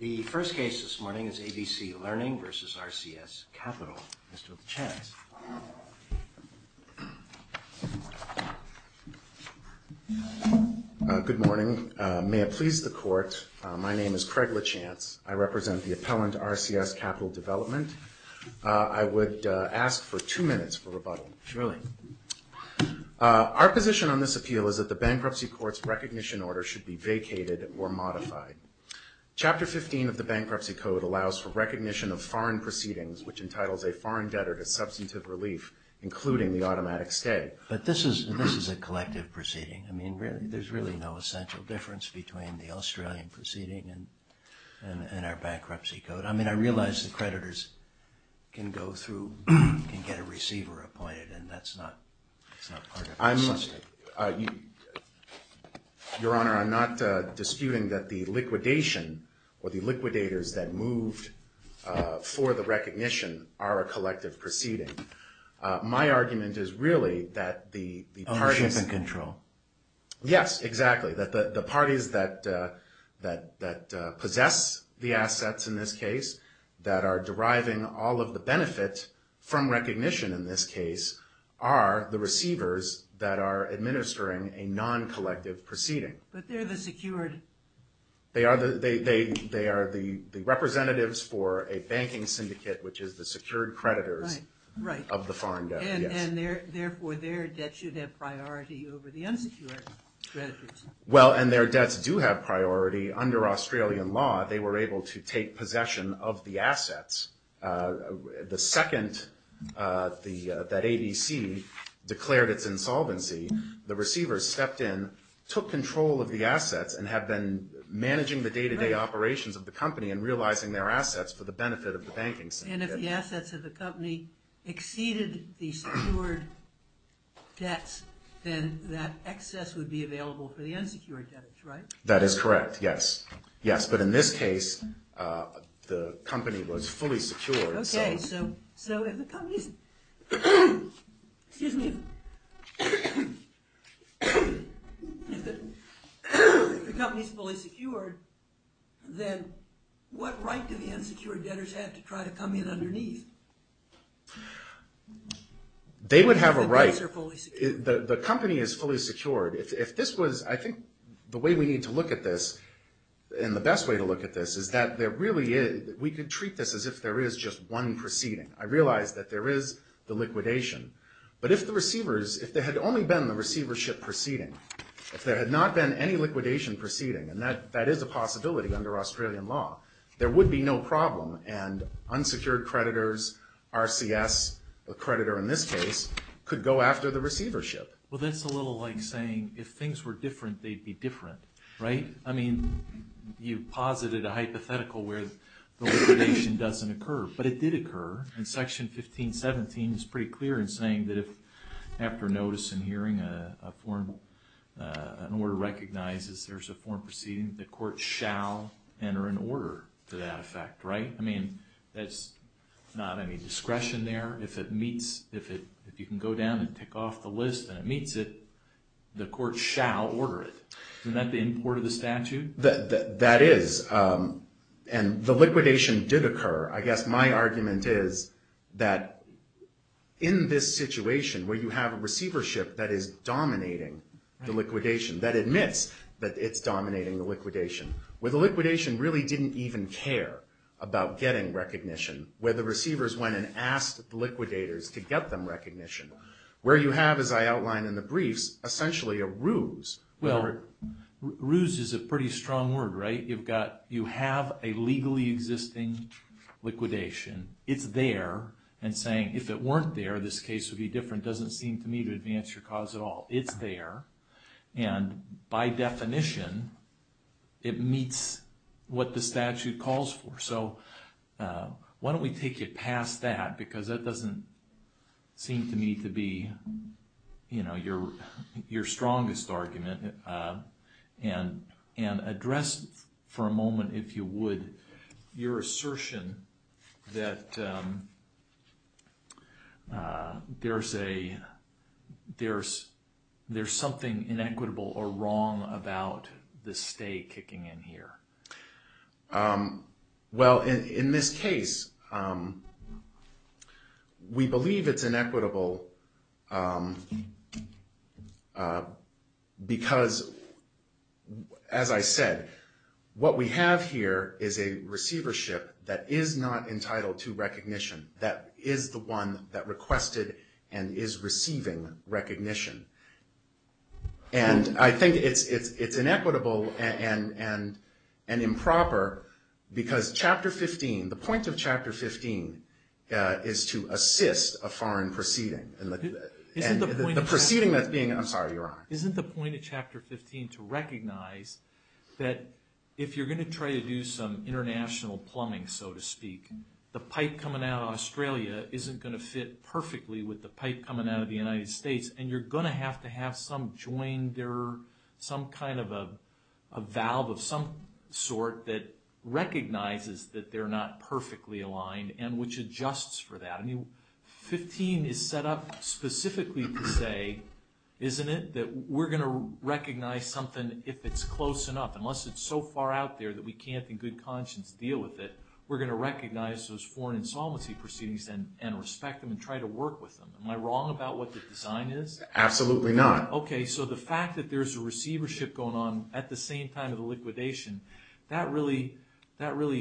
The first case this morning is ABC Learning v. RCS Capital. Mr. Lachance. Good morning. May it please the Court, my name is Craig Lachance. I represent the appellant RCS Capital Development. I would ask for two minutes for rebuttal. Surely. Our position on this appeal is that the Bankruptcy Court's recognition order should be vacated or modified. Chapter 15 of the Bankruptcy Code allows for recognition of foreign proceedings which entitles a foreign debtor to substantive relief, including the automatic stay. But this is a collective proceeding. I mean, there's really no essential difference between the Australian proceeding and our bankruptcy code. But I mean, I realize that creditors can go through and get a receiver appointed and that's not part of the system. Your Honor, I'm not disputing that the liquidation or the liquidators that moved for the recognition are a collective proceeding. My argument is really that the parties... Ownership and control. Yes, exactly. That the parties that possess the assets in this case, that are deriving all of the benefit from recognition in this case, are the receivers that are administering a non-collective proceeding. But they're the secured... They are the representatives for a banking syndicate, which is the secured creditors of the foreign debt. And therefore, their debt should have priority over the unsecured creditors. Well, and their debts do have priority. Under Australian law, they were able to take possession of the assets. The second that ABC declared its insolvency, the receivers stepped in, took control of the assets, and have been managing the day-to-day operations of the company and realizing their assets for the benefit of the banking syndicate. And if the assets of the company exceeded the secured debts, then that excess would be available for the unsecured debtors, right? That is correct, yes. Yes, but in this case, the company was fully secured. Okay, so if the company is fully secured, then what right do the unsecured debtors have to try to come in underneath? They would have a right. The company is fully secured. I think the way we need to look at this, and the best way to look at this, is that we could treat this as if there is just one proceeding. I realize that there is the liquidation. But if there had only been the receivership proceeding, if there had not been any liquidation proceeding, and that is a possibility under Australian law, there would be no problem, and unsecured creditors, RCS, the creditor in this case, could go after the receivership. Well, that's a little like saying, if things were different, they'd be different, right? I mean, you posited a hypothetical where the liquidation doesn't occur, but it did occur. In Section 1517, it's pretty clear in saying that if, after notice and hearing, an order recognizes there's a foreign proceeding, the court shall enter an order to that effect, right? I mean, that's not any discretion there. If it meets, if you can go down and tick off the list and it meets it, the court shall order it. Isn't that the import of the statute? That is. And the liquidation did occur. I guess my argument is that in this situation where you have a receivership that is dominating the liquidation, that admits that it's dominating the liquidation, where the liquidation really didn't even care about getting recognition, where the receivers went and asked the liquidators to get them recognition, where you have, as I outlined in the briefs, essentially a ruse. Well, ruse is a pretty strong word, right? You've got, you have a legally existing liquidation. It's there and saying, if it weren't there, this case would be different, doesn't seem to me to advance your cause at all. It's there, and by definition, it meets what the statute calls for. So, why don't we take it past that, because that doesn't seem to me to be, you know, your strongest argument. And address for a moment, if you would, your assertion that there's a, there's something inequitable or wrong about the stay kicking in here. Well, in this case, we believe it's inequitable because, as I said, what we have here is a receivership that is not entitled to recognition, that is the one that requested and is receiving recognition. And I think it's inequitable and improper because Chapter 15, the point of Chapter 15 is to assist a foreign proceeding. Isn't the point of Chapter 15 to recognize that if you're going to try to do some international plumbing, so to speak, the pipe coming out of Australia isn't going to fit perfectly with the pipe coming out of the United States. And you're going to have to have some joinder, some kind of a valve of some sort that recognizes that they're not perfectly aligned and which adjusts for that. I mean, 15 is set up specifically to say, isn't it, that we're going to recognize something if it's close enough. Unless it's so far out there that we can't in good conscience deal with it, we're going to recognize those foreign insolvency proceedings and respect them and try to work with them. Am I wrong about what the design is? Absolutely not. Okay, so the fact that there's a receivership going on at the same time of the liquidation, that really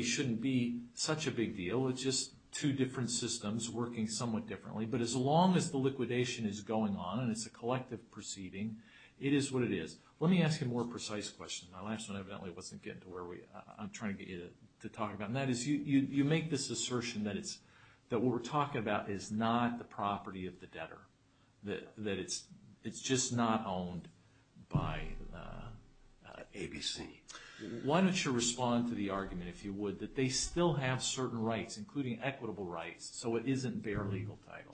shouldn't be such a big deal. It's just two different systems working somewhat differently. But as long as the liquidation is going on and it's a collective proceeding, it is what it is. Let me ask you a more precise question. My last one evidently wasn't getting to where I'm trying to get you to talk about. And that is, you make this assertion that what we're talking about is not the property of the debtor, that it's just not owned by ABC. Why don't you respond to the argument, if you would, that they still have certain rights, including equitable rights, so it isn't bare legal title?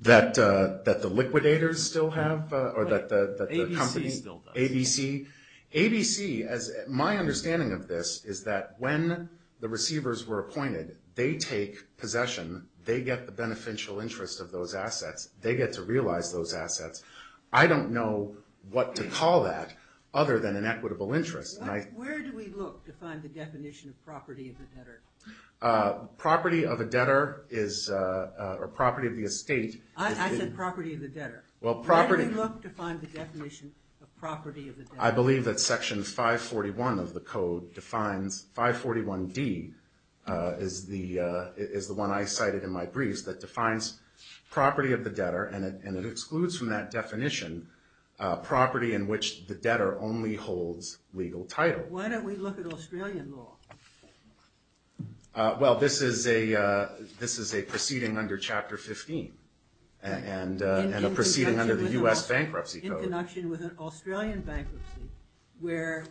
That the liquidators still have? ABC still does. ABC. My understanding of this is that when the receivers were appointed, they take possession. They get the beneficial interest of those assets. They get to realize those assets. I don't know what to call that other than an equitable interest. Where do we look to find the definition of property of the debtor? Property of a debtor or property of the estate. I said property of the debtor. Where do we look to find the definition of property of the debtor? I believe that section 541 of the code defines, 541D is the one I cited in my briefs, that defines property of the debtor. And it excludes from that definition property in which the debtor only holds legal title. Why don't we look at Australian law? Well, this is a proceeding under Chapter 15. And a proceeding under the U.S. Bankruptcy Code. In connection with an Australian bankruptcy where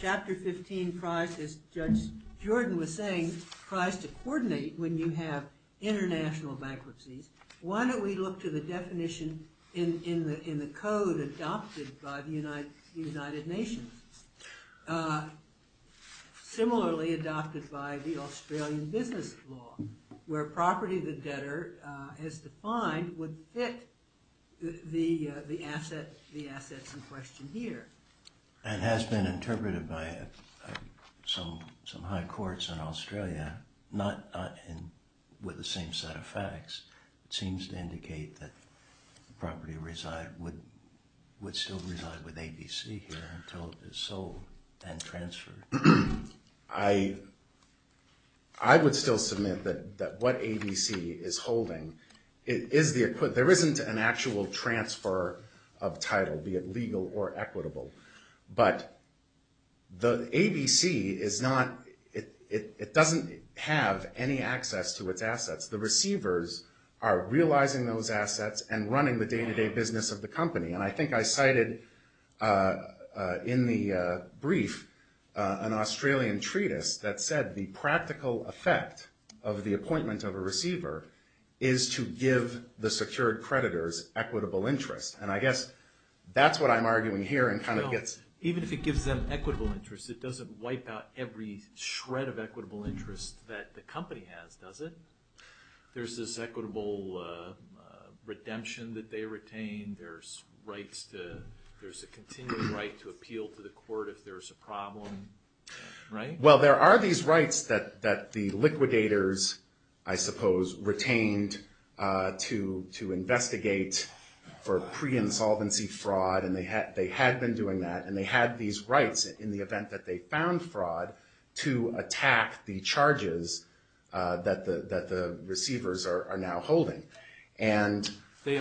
Chapter 15, as Judge Jordan was saying, tries to coordinate when you have international bankruptcies. Why don't we look to the definition in the code adopted by the United Nations? Similarly adopted by the Australian business law, where property of the debtor, as defined, would fit the assets in question here. It has been interpreted by some high courts in Australia, not with the same set of facts. It seems to indicate that the property would still reside with ABC here until it is sold and transferred. I would still submit that what ABC is holding, there isn't an actual transfer of title, be it legal or equitable. But ABC doesn't have any access to its assets. The receivers are realizing those assets and running the day-to-day business of the company. And I think I cited in the brief an Australian treatise that said the practical effect of the appointment of a receiver is to give the secured creditors equitable interest. And I guess that's what I'm arguing here. Even if it gives them equitable interest, it doesn't wipe out every shred of equitable interest that the company has, does it? There's this equitable redemption that they retain. There's a continuing right to appeal to the court if there's a problem, right? Well, there are these rights that the liquidators, I suppose, retained to investigate for pre-insolvency fraud. And they had been doing that. And they had these rights in the event that they found fraud to attack the charges that the receivers are now holding. But we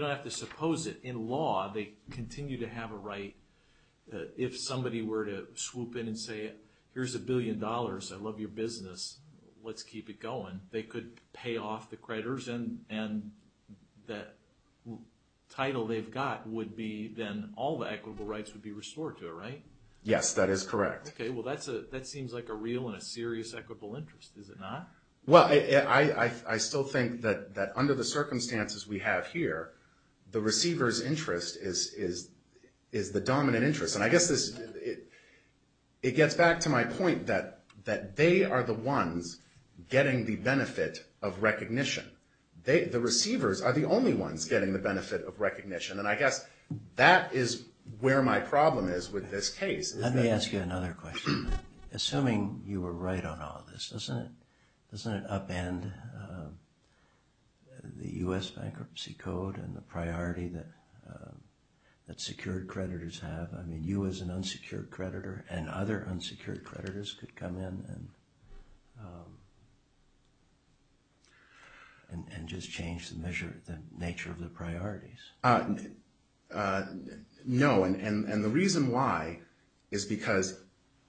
don't have to suppose it. In law, they continue to have a right. If somebody were to swoop in and say, here's a billion dollars, I love your business, let's keep it going, they could pay off the creditors. And that title they've got would be then all the equitable rights would be restored to it, right? Yes, that is correct. Okay, well, that seems like a real and a serious equitable interest. Is it not? Well, I still think that under the circumstances we have here, the receiver's interest is the dominant interest. And I guess it gets back to my point that they are the ones getting the benefit of recognition. The receivers are the only ones getting the benefit of recognition. And I guess that is where my problem is with this case. Let me ask you another question. Assuming you were right on all this, doesn't it upend the U.S. Bankruptcy Code and the priority that secured creditors have? I mean, you as an unsecured creditor and other unsecured creditors could come in and just change the nature of the priorities. No, and the reason why is because,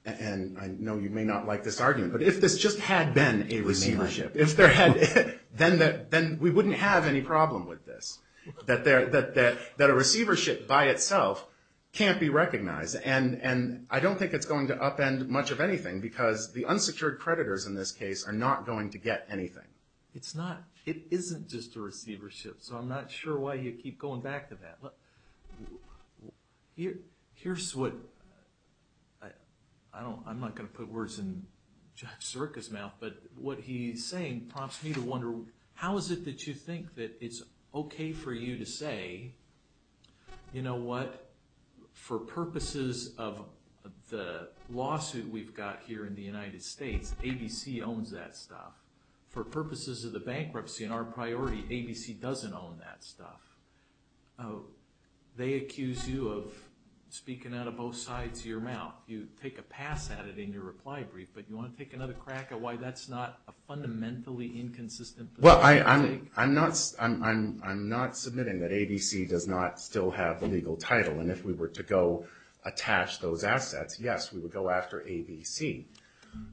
and I know you may not like this argument, but if this just had been a receivership, then we wouldn't have any problem with this. That a receivership by itself can't be recognized. And I don't think it's going to upend much of anything because the unsecured creditors in this case are not going to get anything. It's not, it isn't just a receivership, so I'm not sure why you keep going back to that. Here's what, I'm not going to put words in Judge Sirica's mouth, but what he's saying prompts me to wonder, how is it that you think that it's okay for you to say, you know what, for purposes of the lawsuit we've got here in the United States, ABC owns that stuff. For purposes of the bankruptcy in our priority, ABC doesn't own that stuff. They accuse you of speaking out of both sides of your mouth. You take a pass at it in your reply brief, but you want to take another crack at why that's not a fundamentally inconsistent position to take? Well, I'm not submitting that ABC does not still have the legal title, and if we were to go attach those assets, yes, we would go after ABC.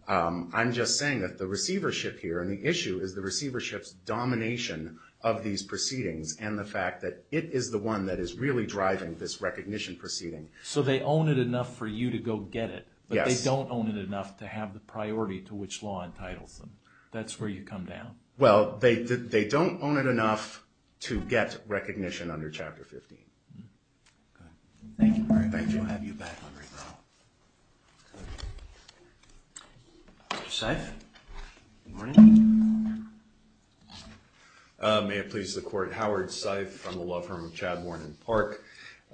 I'm just saying that the receivership here and the issue is the receivership's domination of these proceedings and the fact that it is the one that is really driving this recognition proceeding. So they own it enough for you to go get it, but they don't own it enough to have the priority to which law entitles them. That's where you come down. Well, they don't own it enough to get recognition under Chapter 15. Thank you. Thank you. We'll have you back on right now. Mr. Seif? Good morning. May it please the Court. Howard Seif from the law firm of Chad, Warren & Park,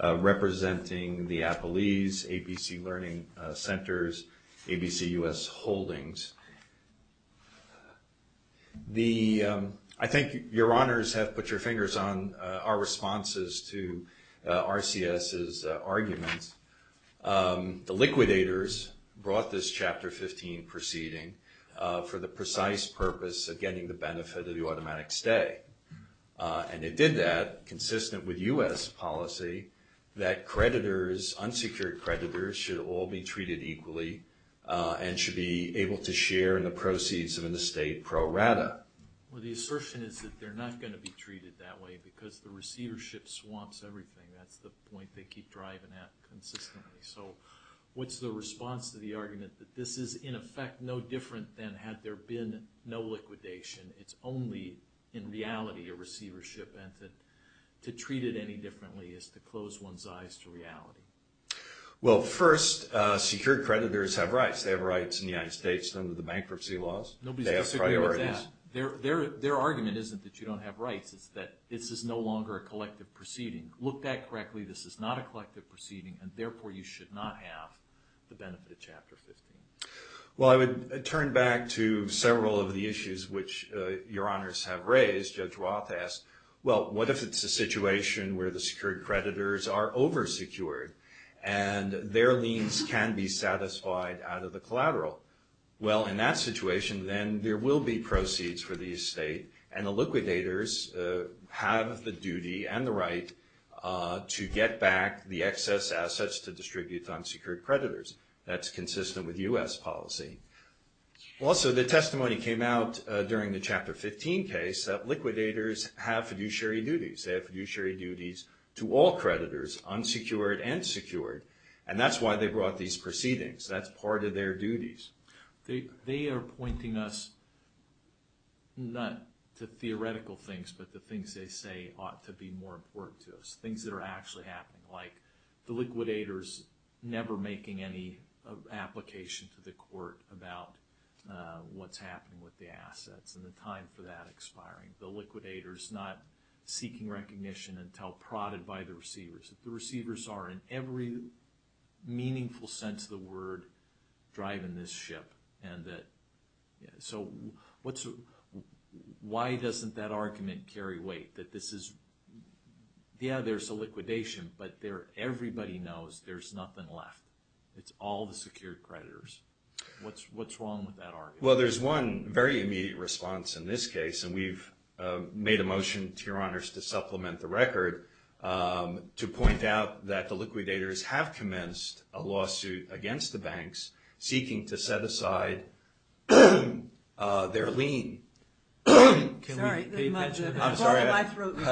representing the Appalese, ABC Learning Centers, ABC US Holdings. I think your honors have put your fingers on our responses to RCS's arguments. The liquidators brought this Chapter 15 proceeding for the precise purpose of getting the benefit of the automatic stay, and it did that consistent with US policy that creditors, unsecured creditors, should all be treated equally and should be able to share in the proceeds of an estate pro rata. Well, the assertion is that they're not going to be treated that way because the receivership swamps everything. That's the point they keep driving at consistently. So what's the response to the argument that this is, in effect, no different than had there been no liquidation? It's only, in reality, a receivership, and to treat it any differently is to close one's eyes to reality. Well, first, secured creditors have rights. They have rights in the United States under the bankruptcy laws. They have priorities. Their argument isn't that you don't have rights. It's that this is no longer a collective proceeding. Looked at correctly, this is not a collective proceeding, and therefore you should not have the benefit of Chapter 15. Well, I would turn back to several of the issues which your honors have raised. Judge Roth asked, well, what if it's a situation where the secured creditors are oversecured and their liens can be satisfied out of the collateral? Well, in that situation, then, there will be proceeds for the estate, and the liquidators have the duty and the right to get back the excess assets to distribute on secured creditors. That's consistent with U.S. policy. Also, the testimony came out during the Chapter 15 case that liquidators have fiduciary duties. They have fiduciary duties to all creditors, unsecured and secured, and that's why they brought these proceedings. That's part of their duties. They are pointing us not to theoretical things, but to things they say ought to be more important to us, things that are actually happening, like the liquidators never making any application to the court about what's happening with the assets and the time for that expiring. The liquidators not seeking recognition until prodded by the receivers. The receivers are, in every meaningful sense of the word, driving this ship. So why doesn't that argument carry weight? That this is, yeah, there's a liquidation, but everybody knows there's nothing left. It's all the secured creditors. What's wrong with that argument? Well, there's one very immediate response in this case, and we've made a motion to Your Honors to supplement the record to point out that the liquidators have commenced a lawsuit against the banks seeking to set aside their lien. Can we pay attention? I'm sorry. I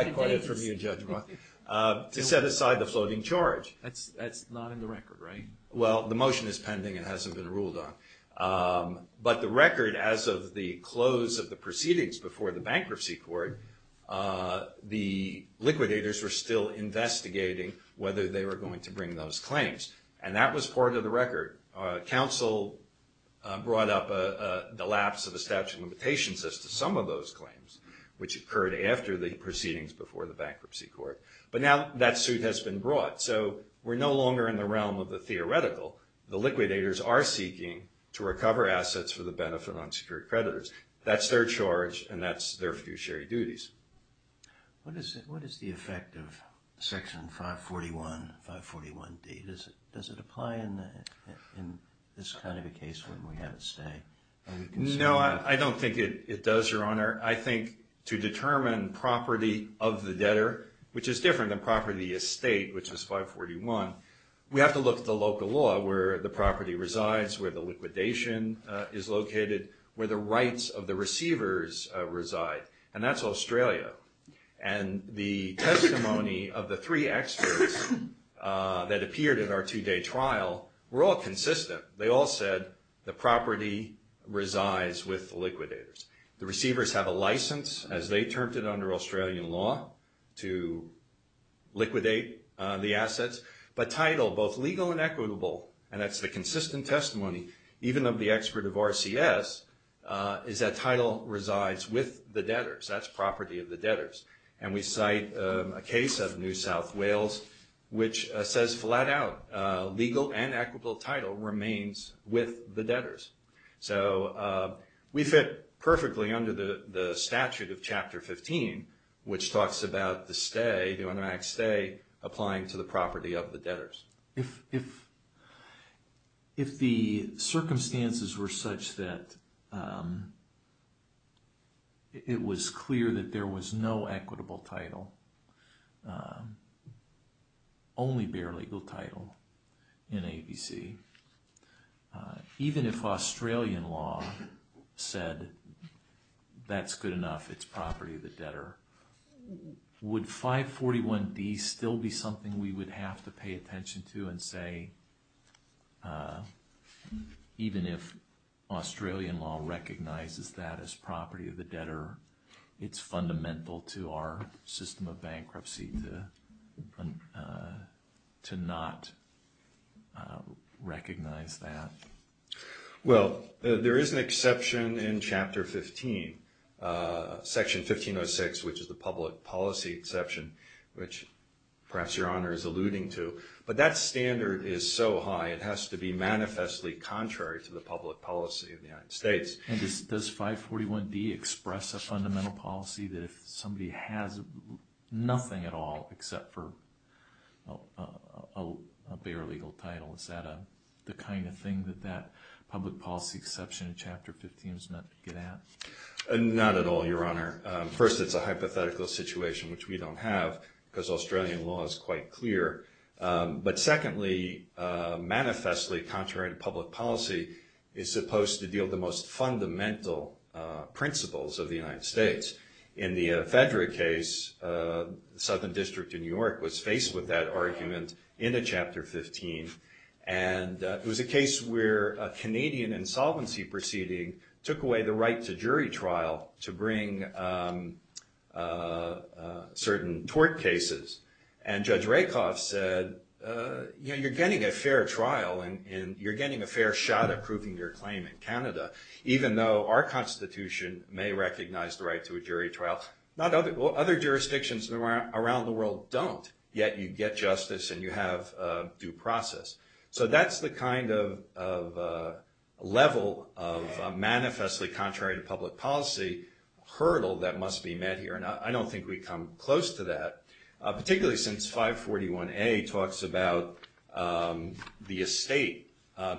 acquired it from you, Judge Roth. To set aside the floating charge. That's not in the record, right? Well, the motion is pending. It hasn't been ruled on. But the record, as of the close of the proceedings before the bankruptcy court, the liquidators were still investigating whether they were going to bring those claims, and that was part of the record. Counsel brought up the lapse of the statute of limitations as to some of those claims, which occurred after the proceedings before the bankruptcy court. But now that suit has been brought. So we're no longer in the realm of the theoretical. The liquidators are seeking to recover assets for the benefit of unsecured creditors. That's their charge, and that's their fiduciary duties. What is the effect of Section 541, 541D? Does it apply in this kind of a case when we have it stay? No, I don't think it does, Your Honor. I think to determine property of the debtor, which is different than property estate, which is 541, we have to look at the local law where the property resides, where the liquidation is located, where the rights of the receivers reside. And that's Australia. And the testimony of the three experts that appeared at our two-day trial were all consistent. They all said the property resides with the liquidators. The receivers have a license, as they termed it under Australian law, to liquidate the assets. But title, both legal and equitable, and that's the consistent testimony, even of the expert of RCS, is that title resides with the debtors. That's property of the debtors. And we cite a case of New South Wales, which says flat out, legal and equitable title remains with the debtors. So we fit perfectly under the statute of Chapter 15, which talks about the stay, the unamaxed stay, applying to the property of the debtors. If the circumstances were such that it was clear that there was no equitable title, only bare legal title in ABC, even if Australian law said that's good enough, it's property of the debtor, would 541D still be something we would have to pay attention to and say, even if Australian law recognizes that as property of the debtor, it's fundamental to our system of bankruptcy to not recognize that? Well, there is an exception in Chapter 15, Section 1506, which is the public policy exception, which perhaps Your Honor is alluding to. But that standard is so high, it has to be manifestly contrary to the public policy of the United States. And does 541D express a fundamental policy that if somebody has nothing at all except for a bare legal title, is that the kind of thing that that public policy exception in Chapter 15 does not get at? Not at all, Your Honor. First, it's a hypothetical situation, which we don't have, because Australian law is quite clear. But secondly, manifestly contrary to public policy is supposed to deal with the most fundamental principles of the United States. In the Fedra case, the Southern District in New York was faced with that argument in Chapter 15. And it was a case where a Canadian insolvency proceeding took away the right to jury trial to bring certain tort cases. And Judge Rakoff said, you're getting a fair trial, and you're getting a fair shot at proving your claim in Canada, even though our Constitution may recognize the right to a jury trial. Other jurisdictions around the world don't, yet you get justice and you have due process. So that's the kind of level of manifestly contrary to public policy hurdle that must be met here. And I don't think we come close to that, particularly since 541A talks about the estate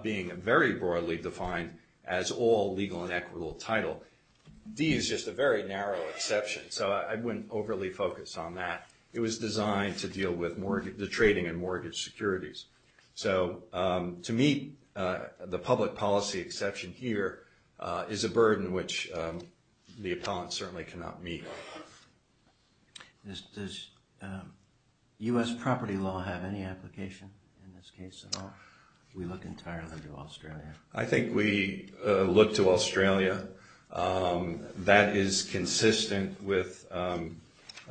being very broadly defined as all legal and equitable title. D is just a very narrow exception, so I wouldn't overly focus on that. It was designed to deal with the trading and mortgage securities. So to meet the public policy exception here is a burden which the appellant certainly cannot meet. Does U.S. property law have any application in this case at all? We look entirely to Australia. I think we look to Australia. That is consistent with a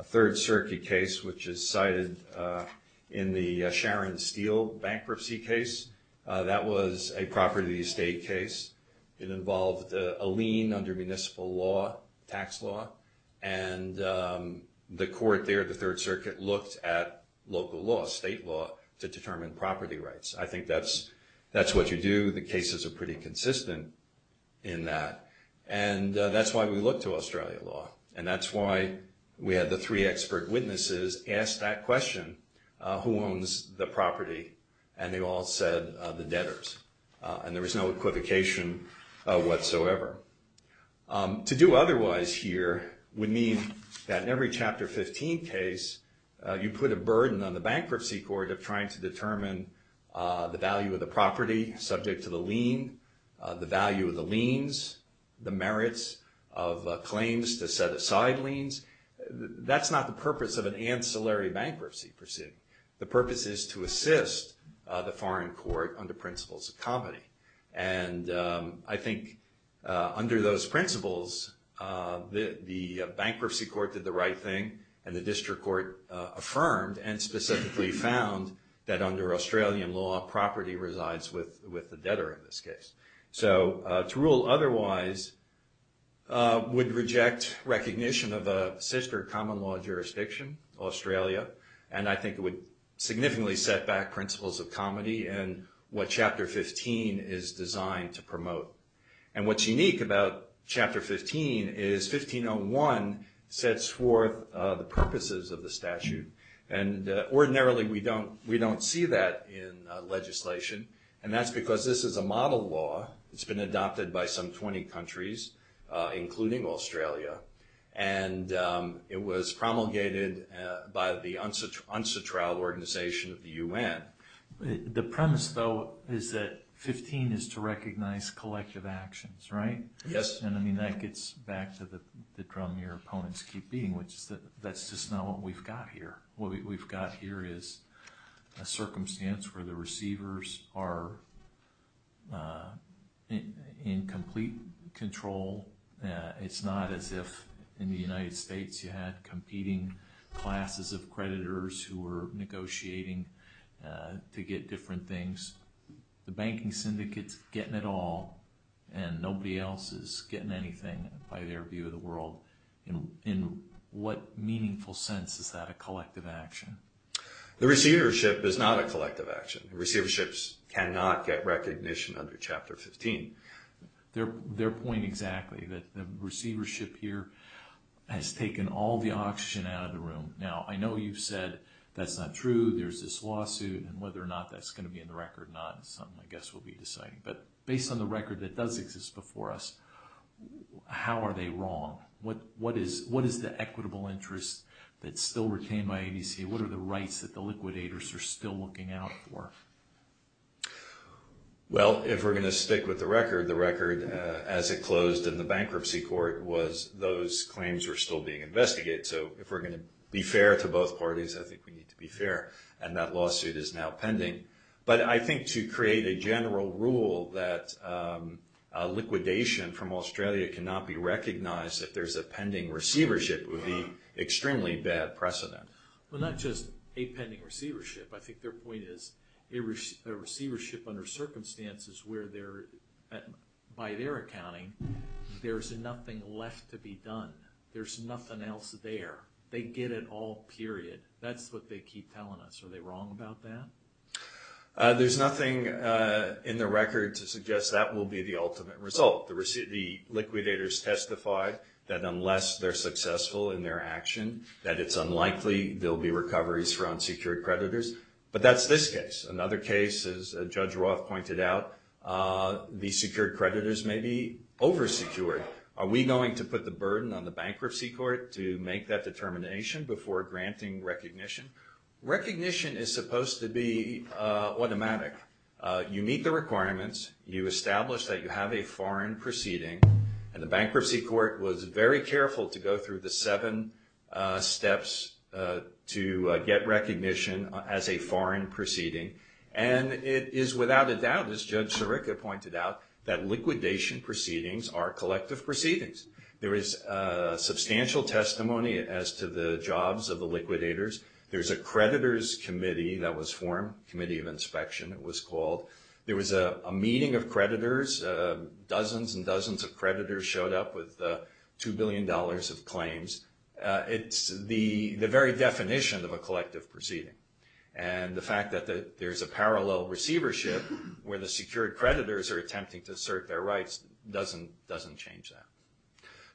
Third Circuit case, which is cited in the Sharon Steele bankruptcy case. That was a property estate case. It involved a lien under municipal law, tax law, and the court there, the Third Circuit, looked at local law, state law, to determine property rights. I think that's what you do. The cases are pretty consistent in that. And that's why we look to Australia law. And that's why we had the three expert witnesses ask that question, who owns the property, and they all said the debtors. And there was no equivocation whatsoever. To do otherwise here would mean that in every Chapter 15 case, you put a burden on the bankruptcy court of trying to determine the value of the property subject to the lien, the value of the liens, the merits of claims to set aside liens. That's not the purpose of an ancillary bankruptcy proceeding. The purpose is to assist the foreign court under principles of comedy. And I think under those principles, the bankruptcy court did the right thing, and the district court affirmed and specifically found that under Australian law, property resides with the debtor in this case. So to rule otherwise would reject recognition of a sister common law jurisdiction, Australia, and I think it would significantly set back principles of comedy and what Chapter 15 is designed to promote. And what's unique about Chapter 15 is 1501 sets forth the purposes of the statute. And ordinarily, we don't see that in legislation, and that's because this is a model law. It's been adopted by some 20 countries, including Australia, and it was promulgated by the UNSATRAL organization of the UN. The premise, though, is that 15 is to recognize collective actions, right? Yes. And I mean, that gets back to the drum your opponents keep beating, which is that that's just not what we've got here. What we've got here is a circumstance where the receivers are in complete control. It's not as if in the United States you had competing classes of creditors who were negotiating to get different things. The banking syndicate's getting it all, and nobody else is getting anything by their view of the world. In what meaningful sense is that a collective action? The receivership is not a collective action. Receiverships cannot get recognition under Chapter 15. Their point exactly, that the receivership here has taken all the oxygen out of the room. Now, I know you've said that's not true, there's this lawsuit, and whether or not that's going to be in the record or not is something I guess we'll be deciding. But based on the record that does exist before us, how are they wrong? What is the equitable interest that's still retained by ABC? What are the rights that the liquidators are still looking out for? Well, if we're going to stick with the record, the record as it closed in the bankruptcy court was those claims were still being investigated. So if we're going to be fair to both parties, I think we need to be fair. And that lawsuit is now pending. But I think to create a general rule that liquidation from Australia cannot be recognized, if there's a pending receivership, would be extremely bad precedent. Well, not just a pending receivership. I think their point is a receivership under circumstances where they're, by their accounting, there's nothing left to be done. There's nothing else there. They get it all, period. That's what they keep telling us. Are they wrong about that? There's nothing in the record to suggest that will be the ultimate result. The liquidators testified that unless they're successful in their action, that it's unlikely there'll be recoveries for unsecured creditors. But that's this case. Another case, as Judge Roth pointed out, the secured creditors may be oversecured. Are we going to put the burden on the bankruptcy court to make that determination before granting recognition? Recognition is supposed to be automatic. You meet the requirements. You establish that you have a foreign proceeding. And the bankruptcy court was very careful to go through the seven steps to get recognition as a foreign proceeding. And it is without a doubt, as Judge Sirica pointed out, that liquidation proceedings are collective proceedings. There is substantial testimony as to the jobs of the liquidators. There's a creditors committee that was formed, committee of inspection it was called. There was a meeting of creditors. Dozens and dozens of creditors showed up with $2 billion of claims. It's the very definition of a collective proceeding. And the fact that there's a parallel receivership where the secured creditors are attempting to assert their rights doesn't change that.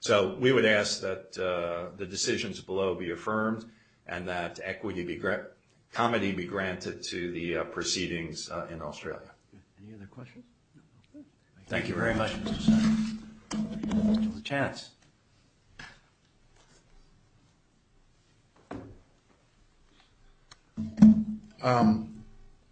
So we would ask that the decisions below be affirmed and that equity be granted, comity be granted to the proceedings in Australia. Any other questions? Thank you very much. Chance.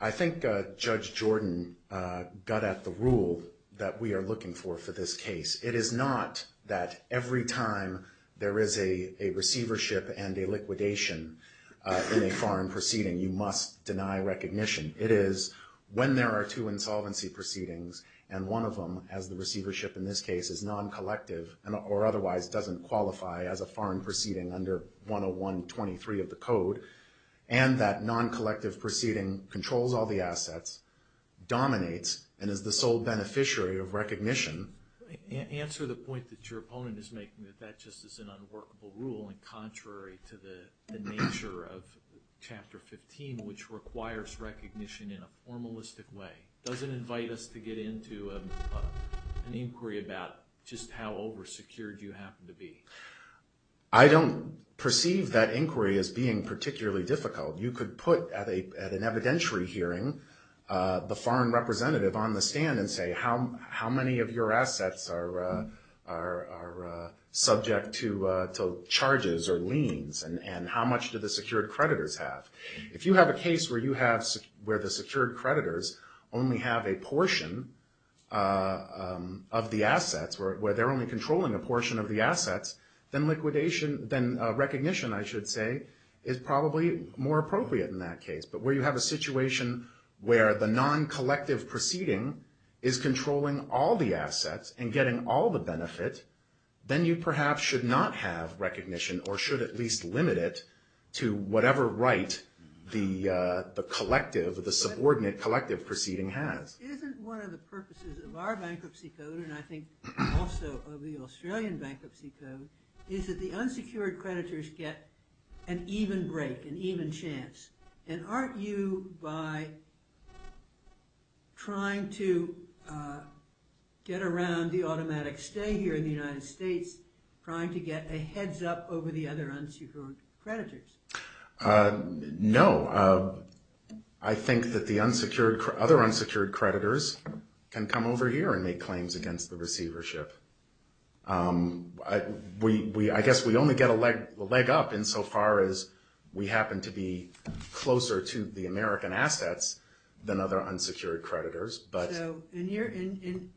I think Judge Jordan got at the rule that we are looking for for this case. It is not that every time there is a receivership and a liquidation in a foreign proceeding, you must deny recognition. It is when there are two insolvency proceedings and one of them, as the receivership in this case is non-collective or otherwise doesn't qualify as a foreign proceeding under 101-23 of the code, dominates and is the sole beneficiary of recognition. Answer the point that your opponent is making that that just is an unworkable rule and contrary to the nature of Chapter 15, which requires recognition in a formalistic way. Does it invite us to get into an inquiry about just how over-secured you happen to be? I don't perceive that inquiry as being particularly difficult. You could put at an evidentiary hearing the foreign representative on the stand and say how many of your assets are subject to charges or liens and how much do the secured creditors have. If you have a case where the secured creditors only have a portion of the assets, where they are only controlling a portion of the assets, then recognition, I should say, is probably more appropriate in that case. But where you have a situation where the non-collective proceeding is controlling all the assets and getting all the benefit, then you perhaps should not have recognition or should at least limit it to whatever right the subordinate collective proceeding has. Isn't one of the purposes of our bankruptcy code and I think also of the Australian bankruptcy code is that the unsecured creditors get an even break, an even chance? And aren't you, by trying to get around the automatic stay here in the United States, trying to get a heads up over the other unsecured creditors? No. I think that the other unsecured creditors can come over here and make claims against the receivership. I guess we only get a leg up insofar as we happen to be closer to the American assets than other unsecured creditors. So in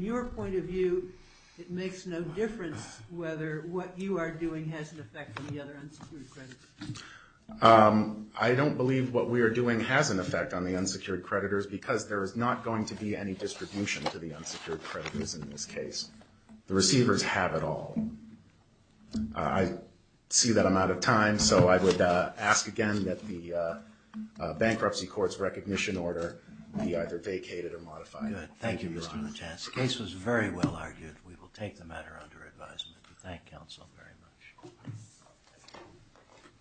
your point of view, it makes no difference whether what you are doing has an effect on the other unsecured creditors? I don't believe what we are doing has an effect on the unsecured creditors because there is not going to be any distribution to the unsecured creditors in this case. The receivers have it all. I see that I'm out of time, so I would ask again that the bankruptcy court's recognition order be either vacated or modified. Good. Thank you, Mr. LeChance. The case was very well argued. We will take the matter under advisement. Thank you, counsel, very much.